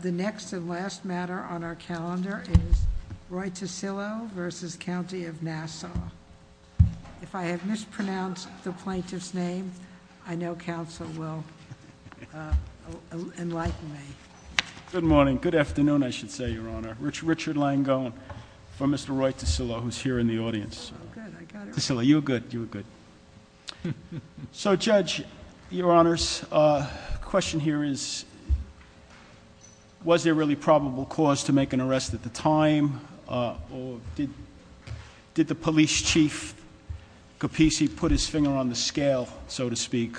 The next and last matter on our calendar is Roy Ticillo v. County of Nassau. If I have mispronounced the plaintiff's name, I know counsel will enlighten me. Good morning. Good afternoon, I should say, Your Honor. Richard Langone for Mr. Roy Ticillo, who's here in the audience. Ticillo, you were good. You were good. So, Judge, Your Honors, the question here is, was there really probable cause to make an arrest at the time, or did the police chief, Capice, put his finger on the scale, so to speak,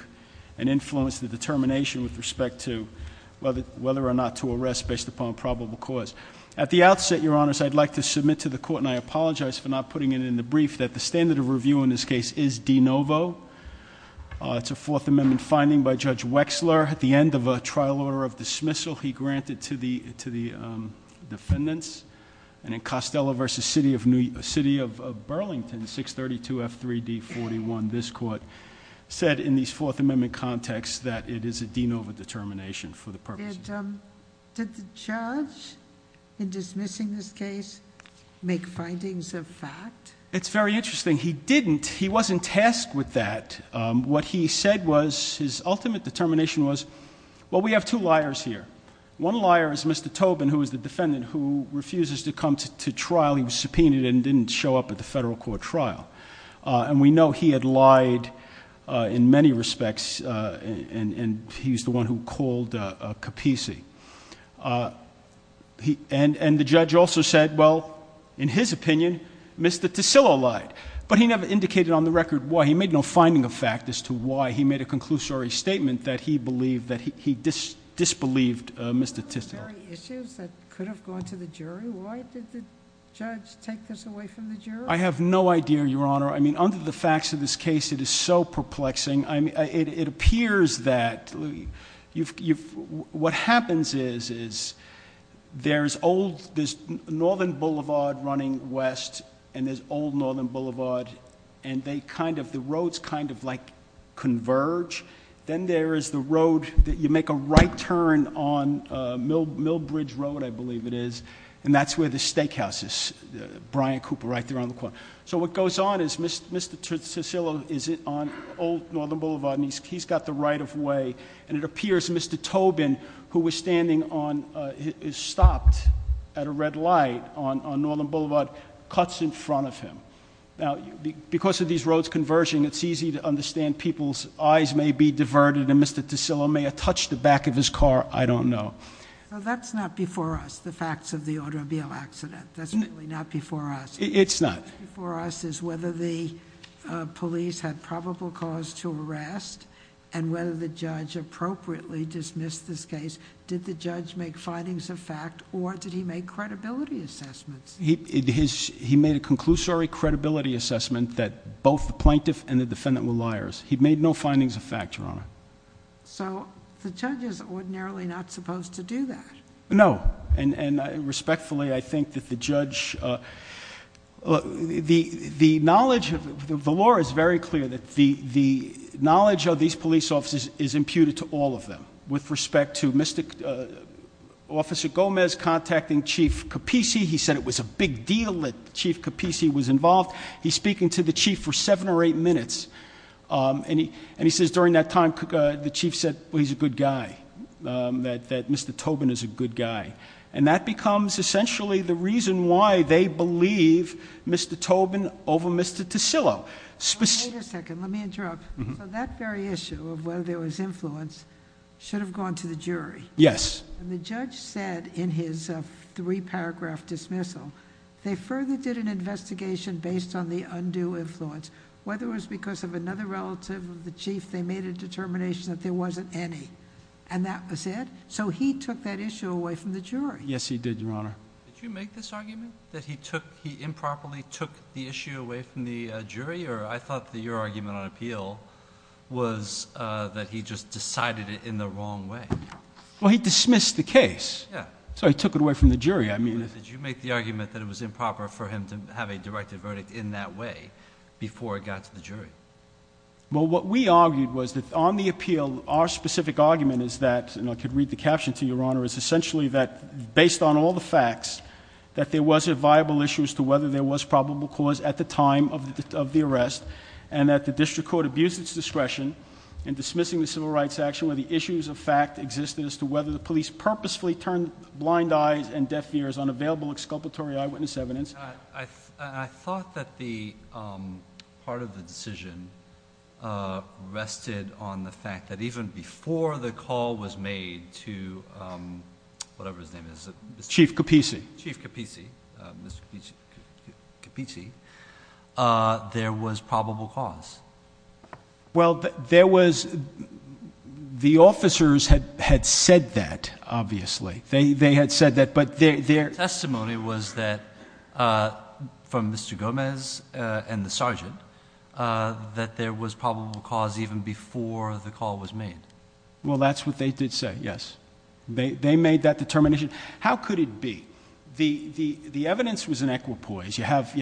and influence the determination with respect to whether or not to arrest based upon probable cause? At the outset, Your Honors, I'd like to submit to the court, and I apologize for not putting it in the brief, that the standard of review in this case is de novo. It's a Fourth Amendment finding by Judge Wexler. At the end of a trial order of dismissal, he granted to the defendants. And in Costello v. City of Burlington, 632F3D41, this court said in these Fourth Amendment contexts that it is a de novo determination for the purposes of the case. But did the judge, in dismissing this case, make findings of fact? It's very interesting. He didn't. He wasn't tasked with that. What he said was, his ultimate determination was, well, we have two liars here. One liar is Mr. Tobin, who is the defendant, who refuses to come to trial. He was subpoenaed and didn't show up at the federal court trial. And we know he had lied in many respects, and he's the one who called Capisi. And the judge also said, well, in his opinion, Mr. Tisillo lied. But he never indicated on the record why. He made no finding of fact as to why. He made a conclusory statement that he disbelieved Mr. Tisillo. There are issues that could have gone to the jury. Why did the judge take this away from the jury? I have no idea, Your Honor. I mean, under the facts of this case, it is so perplexing. It appears that what happens is, there's Northern Boulevard running west, and there's Old Northern Boulevard. And the roads kind of converge. Then there is the road that you make a right turn on, Mill Bridge Road, I believe it is. And that's where the steakhouse is, Brian Cooper, right there on the corner. So what goes on is, Mr. Tisillo is on Old Northern Boulevard, and he's got the right of way. And it appears Mr. Tobin, who was standing on, is stopped at a red light on Northern Boulevard, cuts in front of him. Now, because of these roads converging, it's easy to understand people's eyes may be diverted. And Mr. Tisillo may have touched the back of his car, I don't know. Well, that's not before us, the facts of the automobile accident. That's really not before us. It's not. Before us is whether the police had probable cause to arrest, and whether the judge appropriately dismissed this case. Did the judge make findings of fact, or did he make credibility assessments? He made a conclusory credibility assessment that both the plaintiff and the defendant were liars. He made no findings of fact, Your Honor. So, the judge is ordinarily not supposed to do that. No, and respectfully, I think that the judge, the knowledge, the law is very clear that the knowledge of these police officers is imputed to all of them. With respect to Mr. Officer Gomez contacting Chief Capisi, he said it was a big deal that Chief Capisi was involved. He's speaking to the chief for seven or eight minutes. And he says during that time, the chief said he's a good guy, that Mr. Tobin is a good guy. And that becomes essentially the reason why they believe Mr. Tobin over Mr. Tisillo. Wait a second, let me interrupt. So that very issue of whether there was influence should have gone to the jury. Yes. And the judge said in his three paragraph dismissal, they further did an investigation based on the undue influence. Whether it was because of another relative of the chief, they made a determination that there wasn't any. And that was it. So he took that issue away from the jury. Yes, he did, Your Honor. Did you make this argument that he improperly took the issue away from the jury? Or I thought that your argument on appeal was that he just decided it in the wrong way. Well, he dismissed the case. Yeah. So he took it away from the jury. Did you make the argument that it was improper for him to have a directed verdict in that way before it got to the jury? Well, what we argued was that on the appeal, our specific argument is that, and I could read the caption to you, Your Honor, is essentially that based on all the facts, that there was a viable issue as to whether there was probable cause at the time of the arrest, and that the district court abused its discretion in dismissing the civil rights action where the issues of fact existed as to whether the police purposefully turned blind eyes and deaf ears on available exculpatory eyewitness evidence. I thought that part of the decision rested on the fact that even before the call was made to whatever his name is. Chief Capisi. Chief Capisi, Mr. Capisi, there was probable cause. Well, there was the officers had said that, obviously. They had said that, but their testimony was that from Mr. Gomez and the sergeant that there was probable cause even before the call was made. Well, that's what they did say, yes. They made that determination. How could it be? The evidence was in equipoise. Supposedly,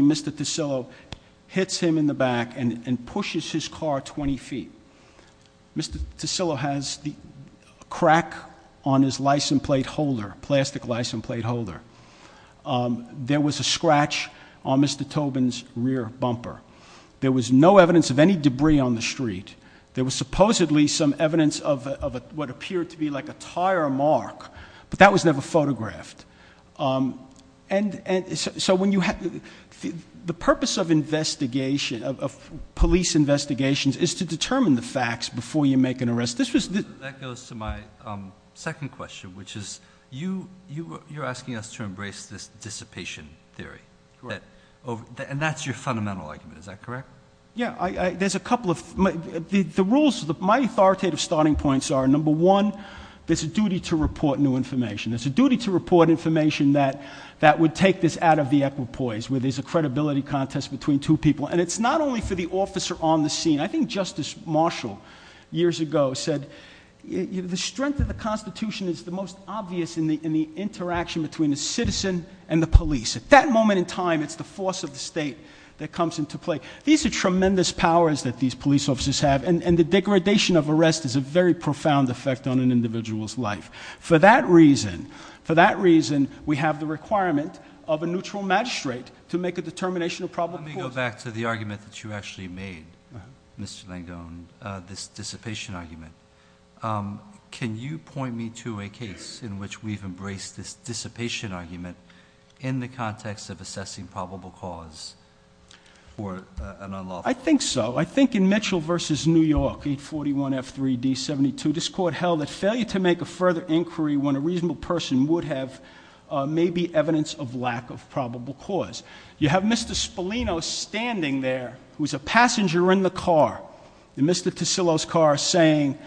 Mr. Tosillo hits him in the back and pushes his car 20 feet. Mr. Tosillo has a crack on his plastic license plate holder. There was a scratch on Mr. Tobin's rear bumper. There was no evidence of any debris on the street. There was supposedly some evidence of what appeared to be like a tire mark, but that was never photographed. The purpose of police investigations is to determine the facts before you make an arrest. That goes to my second question, which is you're asking us to embrace this dissipation theory. Correct. And that's your fundamental argument. Is that correct? Yeah. There's a couple of. The rules, my authoritative starting points are, number one, there's a duty to report new information. There's a duty to report information that would take this out of the equipoise, where there's a credibility contest between two people. And it's not only for the officer on the scene. I think Justice Marshall years ago said the strength of the Constitution is the most obvious in the interaction between a citizen and the police. At that moment in time, it's the force of the state that comes into play. These are tremendous powers that these police officers have, and the degradation of arrest is a very profound effect on an individual's life. For that reason, we have the requirement of a neutral magistrate to make a determination of probable cause. Let me go back to the argument that you actually made, Mr. Langone, this dissipation argument. Can you point me to a case in which we've embraced this dissipation argument in the context of assessing probable cause for an unlawful- I think so. I think in Mitchell versus New York, 841F3D72, this court held that failure to make a further inquiry when a reasonable person would have may be evidence of lack of probable cause. You have Mr. Spolino standing there, who's a passenger in the car, in Mr. Tisillo's car, saying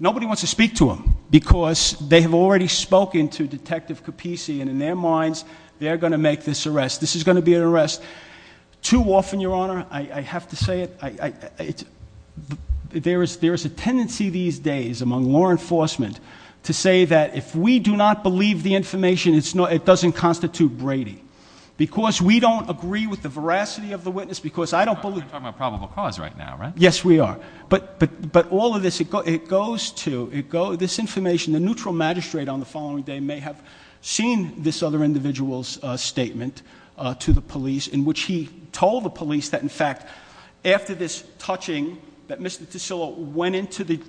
nobody wants to speak to him because they have already spoken to Detective Capisi. And in their minds, they're going to make this arrest. This is going to be an arrest. Too often, Your Honor, I have to say it, there is a tendency these days among law enforcement to say that if we do not believe the information, it doesn't constitute Brady. Because we don't agree with the veracity of the witness, because I don't believe- You're talking about probable cause right now, right? Yes, we are. But all of this, it goes to, this information, the neutral magistrate on the following day may have seen this other individual's statement to the police, in which he told the police that, in fact, after this touching, that Mr. Tisillo went into the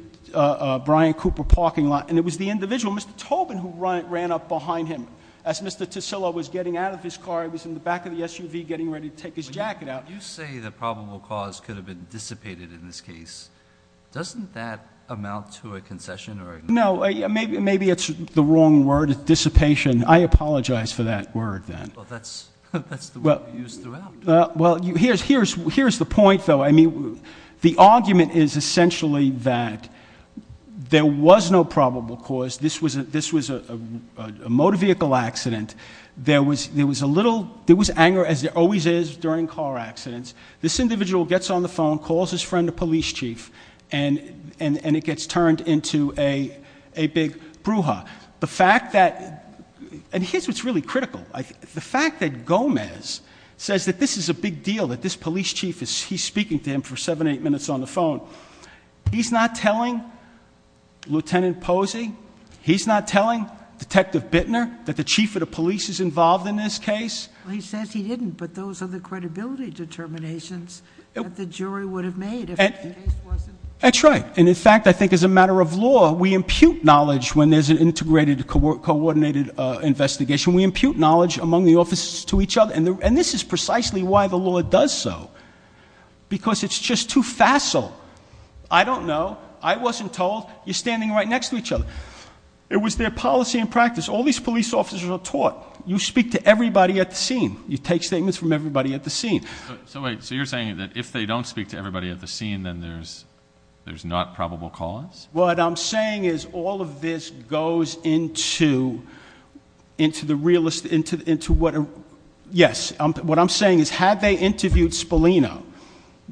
Brian Cooper parking lot, and it was the individual, Mr. Tobin, who ran up behind him. As Mr. Tisillo was getting out of his car, he was in the back of the SUV getting ready to take his jacket out. When you say that probable cause could have been dissipated in this case, doesn't that amount to a concession or a- No, maybe it's the wrong word, dissipation. I apologize for that word then. Well, that's the word we use throughout. Well, here's the point, though. I mean, the argument is essentially that there was no probable cause. This was a motor vehicle accident. There was anger, as there always is during car accidents. This individual gets on the phone, calls his friend, the police chief, and it gets turned into a big brouhaha. And here's what's really critical. The fact that Gomez says that this is a big deal, that this police chief, he's speaking to him for seven, eight minutes on the phone. He's not telling Lieutenant Posey, he's not telling Detective Bittner that the chief of the police is involved in this case. He says he didn't, but those are the credibility determinations that the jury would have made if the case wasn't- That's right. And, in fact, I think as a matter of law, we impute knowledge when there's an integrated, coordinated investigation. We impute knowledge among the officers to each other. And this is precisely why the law does so, because it's just too facile. I don't know. I wasn't told. You're standing right next to each other. It was their policy and practice. All these police officers are taught, you speak to everybody at the scene. You take statements from everybody at the scene. So you're saying that if they don't speak to everybody at the scene, then there's not probable cause? What I'm saying is all of this goes into the realist, into what- Yes, what I'm saying is had they interviewed Spolino,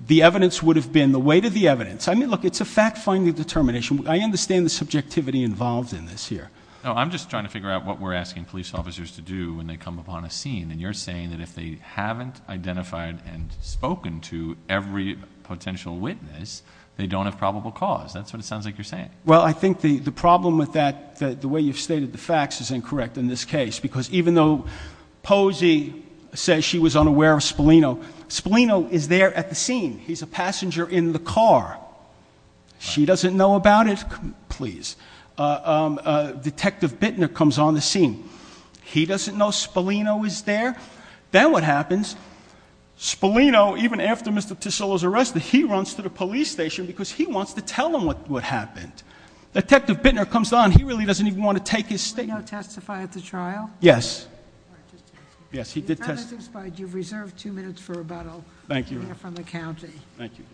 the evidence would have been, the weight of the evidence- I mean, look, it's a fact-finding determination. I understand the subjectivity involved in this here. No, I'm just trying to figure out what we're asking police officers to do when they come upon a scene. And you're saying that if they haven't identified and spoken to every potential witness, they don't have probable cause. That's what it sounds like you're saying. Well, I think the problem with that, the way you've stated the facts, is incorrect in this case, because even though Posey says she was unaware of Spolino, Spolino is there at the scene. He's a passenger in the car. She doesn't know about it. Please. Detective Bittner comes on the scene. He doesn't know Spolino is there. Then what happens? Spolino, even after Mr. Tisola's arrested, he runs to the police station because he wants to tell them what happened. Detective Bittner comes on, he really doesn't even want to take his statement. Did Spolino testify at the trial? Yes. Yes, he did testify. Your time has expired. You've reserved two minutes for about a minute from the county. Thank you.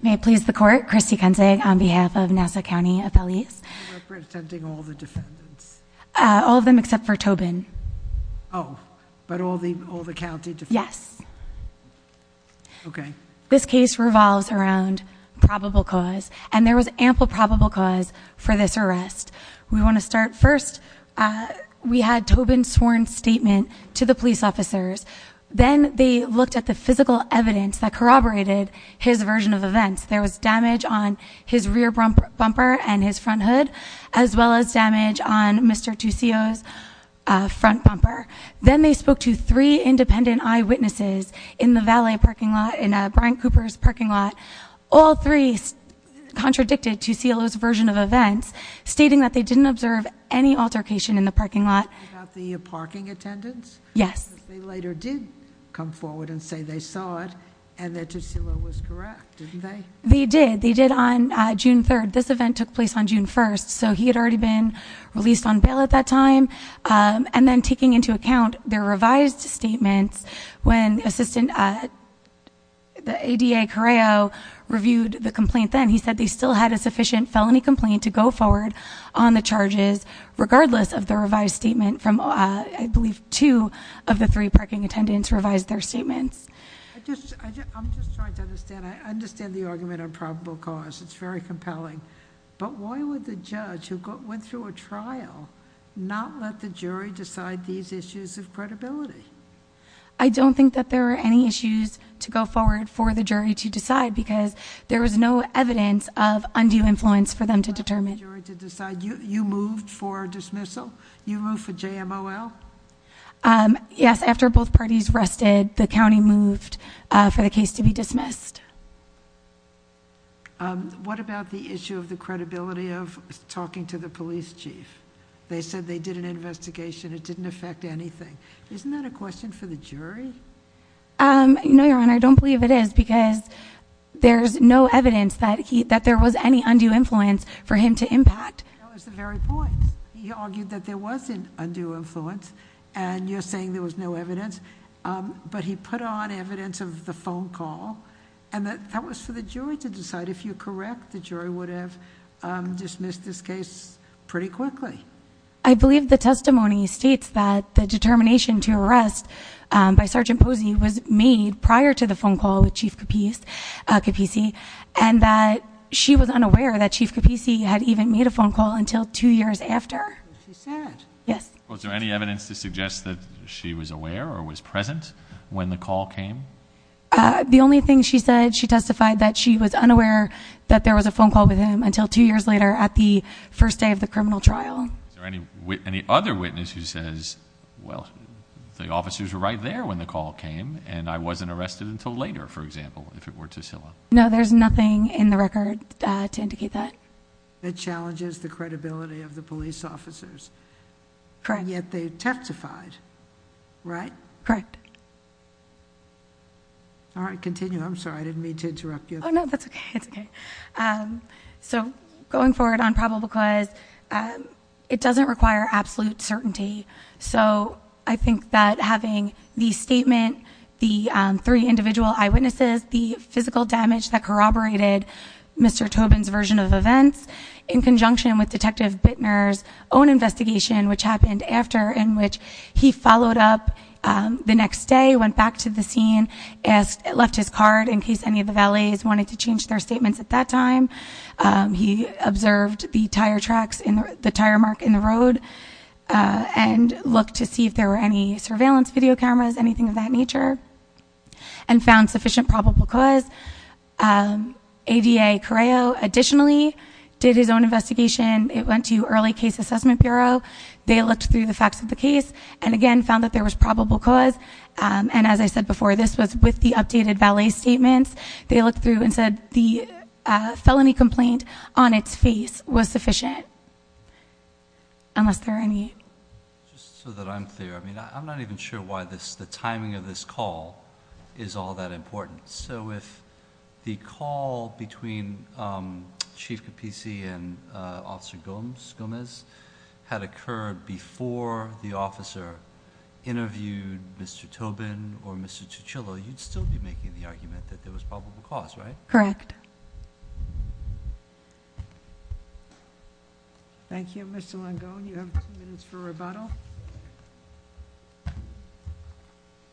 May it please the court, Christy Kensing on behalf of Nassau County FLEs. Representing all the defendants? All of them except for Tobin. Oh, but all the county defendants? Yes. Okay. This case revolves around probable cause, and there was ample probable cause for this arrest. We want to start first. We had Tobin's sworn statement to the police officers. Then they looked at the physical evidence that corroborated his version of events. There was damage on his rear bumper and his front hood, as well as damage on Mr. Tisola's front bumper. Then they spoke to three independent eyewitnesses in the valet parking lot, in Brian Cooper's parking lot. All three contradicted Tisola's version of events, stating that they didn't observe any altercation in the parking lot. About the parking attendance? Yes. They later did come forward and say they saw it and that Tisola was correct, didn't they? They did. They did on June 3rd. This event took place on June 1st, so he had already been released on bail at that time. Then taking into account their revised statements, when the assistant, the ADA Correo, reviewed the complaint then, he said they still had a sufficient felony complaint to go forward on the charges, regardless of the revised statement from, I believe, two of the three parking attendants revised their statements. I'm just trying to understand. I understand the argument on probable cause. It's very compelling. But why would the judge, who went through a trial, not let the jury decide these issues of credibility? I don't think that there were any issues to go forward for the jury to decide, because there was no evidence of undue influence for them to determine. You moved for dismissal? You moved for JMOL? Yes. After both parties rested, the county moved for the case to be dismissed. What about the issue of the credibility of talking to the police chief? They said they did an investigation. It didn't affect anything. Isn't that a question for the jury? No, Your Honor. I don't believe it is, because there's no evidence that there was any undue influence for him to impact. That was the very point. He argued that there was an undue influence, and you're saying there was no evidence. But he put on evidence of the phone call, and that was for the jury to decide. If you're correct, the jury would have dismissed this case pretty quickly. I believe the testimony states that the determination to arrest by Sergeant Posey was made prior to the phone call with Chief Capisi, and that she was unaware that Chief Capisi had even made a phone call until two years after. She said? Yes. Was there any evidence to suggest that she was aware or was present when the call came? The only thing she said, she testified that she was unaware that there was a phone call with him until two years later at the first day of the criminal trial. Is there any other witness who says, well, the officers were right there when the call came, and I wasn't arrested until later, for example, if it were Tiscilla? No, there's nothing in the record to indicate that. It challenges the credibility of the police officers. Correct. And yet they testified, right? Correct. All right, continue. I'm sorry, I didn't mean to interrupt you. Oh, no, that's okay. It's okay. So going forward on probable cause, it doesn't require absolute certainty, so I think that having the statement, the three individual eyewitnesses, the physical damage that corroborated Mr. Tobin's version of events in conjunction with Detective Bittner's own investigation, which happened after in which he followed up the next day, went back to the scene, left his card in case any of the valets wanted to change their statements at that time. He observed the tire marks in the road and looked to see if there were any surveillance video cameras, anything of that nature, and found sufficient probable cause. ADA Correo additionally did his own investigation. It went to Early Case Assessment Bureau. They looked through the facts of the case and, again, found that there was probable cause. And as I said before, this was with the updated valet statements. They looked through and said the felony complaint on its face was sufficient, unless there are any. Just so that I'm clear, I mean, I'm not even sure why the timing of this call is all that important. So if the call between Chief Capisi and Officer Gomez had occurred before the officer interviewed Mr. Tobin or Mr. Chuchillo, you'd still be making the argument that there was probable cause, right? Correct. Thank you, Mr. Longo. You have two minutes for rebuttal.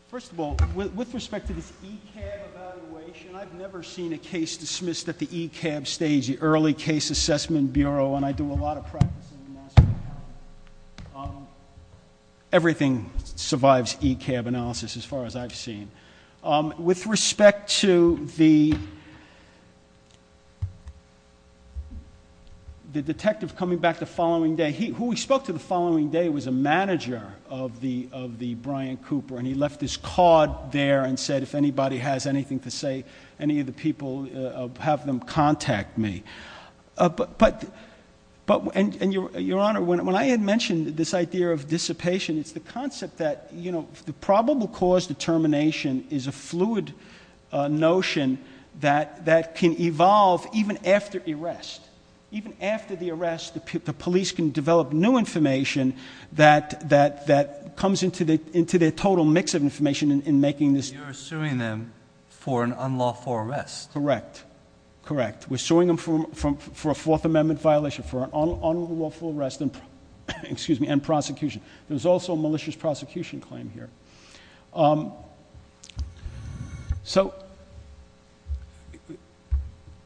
First of all, with respect to this ECAB evaluation, I've never seen a case dismissed at the ECAB stage, the Early Case Assessment Bureau, and I do a lot of practice in the master's department. Everything survives ECAB analysis as far as I've seen. With respect to the detective coming back the following day, who we spoke to the following day was a manager of the Brian Cooper, and he left his card there and said if anybody has anything to say, any of the people, have them contact me. But, Your Honor, when I had mentioned this idea of dissipation, it's the concept that the probable cause determination is a fluid notion that can evolve even after arrest. Even after the arrest, the police can develop new information that comes into their total mix of information in making this. You're suing them for an unlawful arrest. Correct. Correct. We're suing them for a Fourth Amendment violation, for an unlawful arrest and prosecution. There's also a malicious prosecution claim here. So,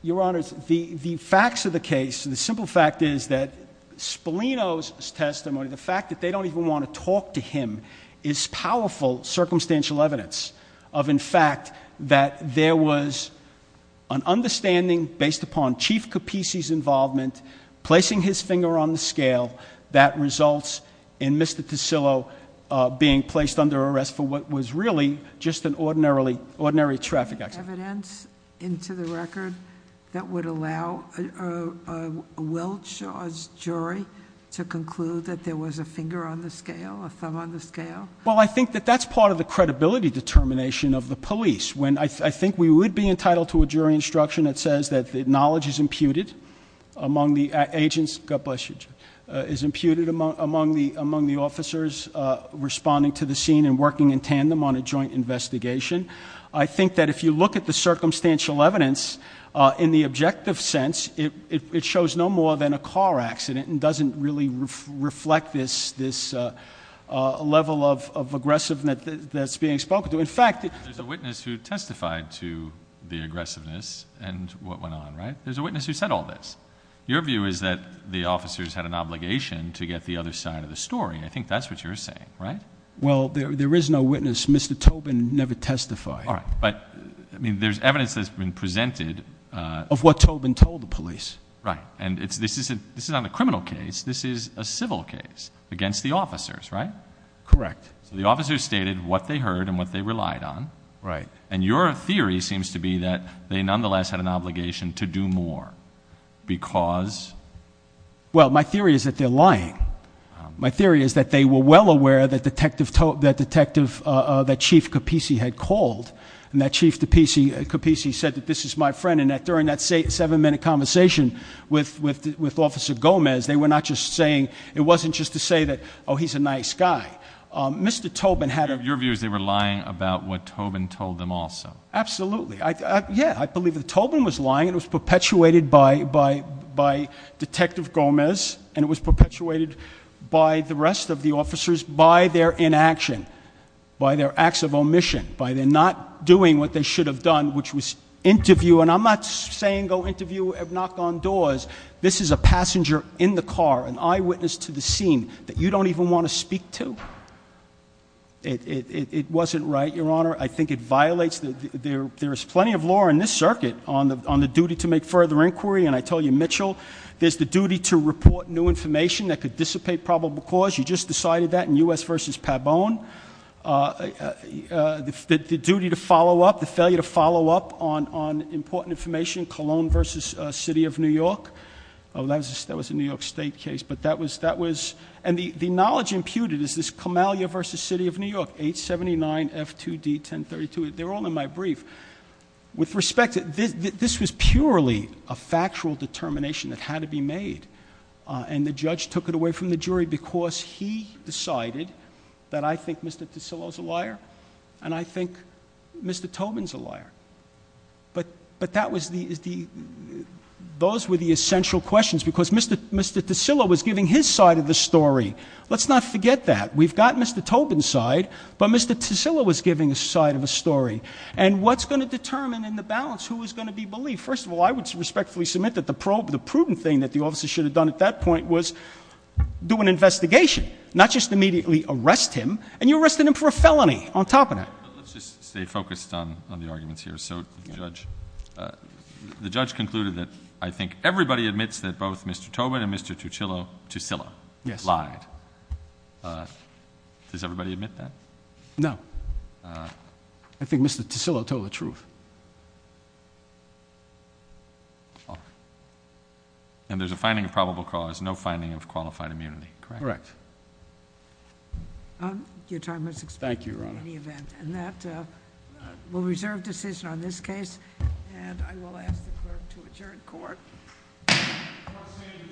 Your Honors, the facts of the case, the simple fact is that Spolino's testimony, the fact that they don't even want to talk to him, is powerful circumstantial evidence of, in fact, that there was an understanding based upon Chief Capisi's involvement, placing his finger on the scale, that results in Mr. Ticillo being placed under arrest for what was really just an ordinary traffic accident. Evidence into the record that would allow a well-charged jury to conclude that there was a finger on the scale, a thumb on the scale? Well, I think that that's part of the credibility determination of the police. I think we would be entitled to a jury instruction that says that knowledge is imputed among the agents, God bless you, is imputed among the officers responding to the scene and working in tandem on a joint investigation. I think that if you look at the circumstantial evidence, in the objective sense, it shows no more than a car accident and doesn't really reflect this level of aggressiveness that's being spoken to. There's a witness who testified to the aggressiveness and what went on, right? There's a witness who said all this. Your view is that the officers had an obligation to get the other side of the story. I think that's what you're saying, right? Well, there is no witness. Mr. Tobin never testified. All right, but there's evidence that's been presented- Of what Tobin told the police. Right, and this is not a criminal case. This is a civil case against the officers, right? Correct. So the officers stated what they heard and what they relied on. Right. And your theory seems to be that they nonetheless had an obligation to do more because- Well, my theory is that they're lying. My theory is that they were well aware that Chief Capisi had called, and that Chief Capisi said that this is my friend, and that during that seven-minute conversation with Officer Gomez, they were not just saying, it wasn't just to say that, oh, he's a nice guy. Mr. Tobin had a- Your view is they were lying about what Tobin told them also. Absolutely. Yeah, I believe that Tobin was lying. It was perpetuated by Detective Gomez, and it was perpetuated by the rest of the officers by their inaction, by their acts of omission, by their not doing what they should have done, which was interview, and I'm not saying go interview at knock on doors. This is a passenger in the car, an eyewitness to the scene that you don't even want to speak to. It wasn't right, Your Honor. I think it violates the- There is plenty of law in this circuit on the duty to make further inquiry, and I told you, Mitchell, there's the duty to report new information that could dissipate probable cause. You just decided that in U.S. v. Pabon. The duty to follow up, the failure to follow up on important information, Cologne v. City of New York. Oh, that was a New York State case, but that was- And the knowledge imputed is this Camalia v. City of New York, 879F2D1032. They're all in my brief. With respect, this was purely a factual determination that had to be made, and the judge took it away from the jury because he decided that I think Mr. Tosillo's a liar, and I think Mr. Tobin's a liar. But that was the- Those were the essential questions because Mr. Tosillo was giving his side of the story. Let's not forget that. We've got Mr. Tobin's side, but Mr. Tosillo was giving his side of the story. And what's going to determine in the balance who is going to be believed? First of all, I would respectfully submit that the proven thing that the officer should have done at that point was do an investigation, not just immediately arrest him, and you arrested him for a felony on top of that. Let's just stay focused on the arguments here. So the judge concluded that I think everybody admits that both Mr. Tobin and Mr. Tosillo lied. Yes. Does everybody admit that? No. I think Mr. Tosillo told the truth. And there's a finding of probable cause, no finding of qualified immunity, correct? Correct. Your time has expired. Thank you, Your Honor. And that will reserve decision on this case, and I will ask the clerk to adjourn court. Court is adjourned.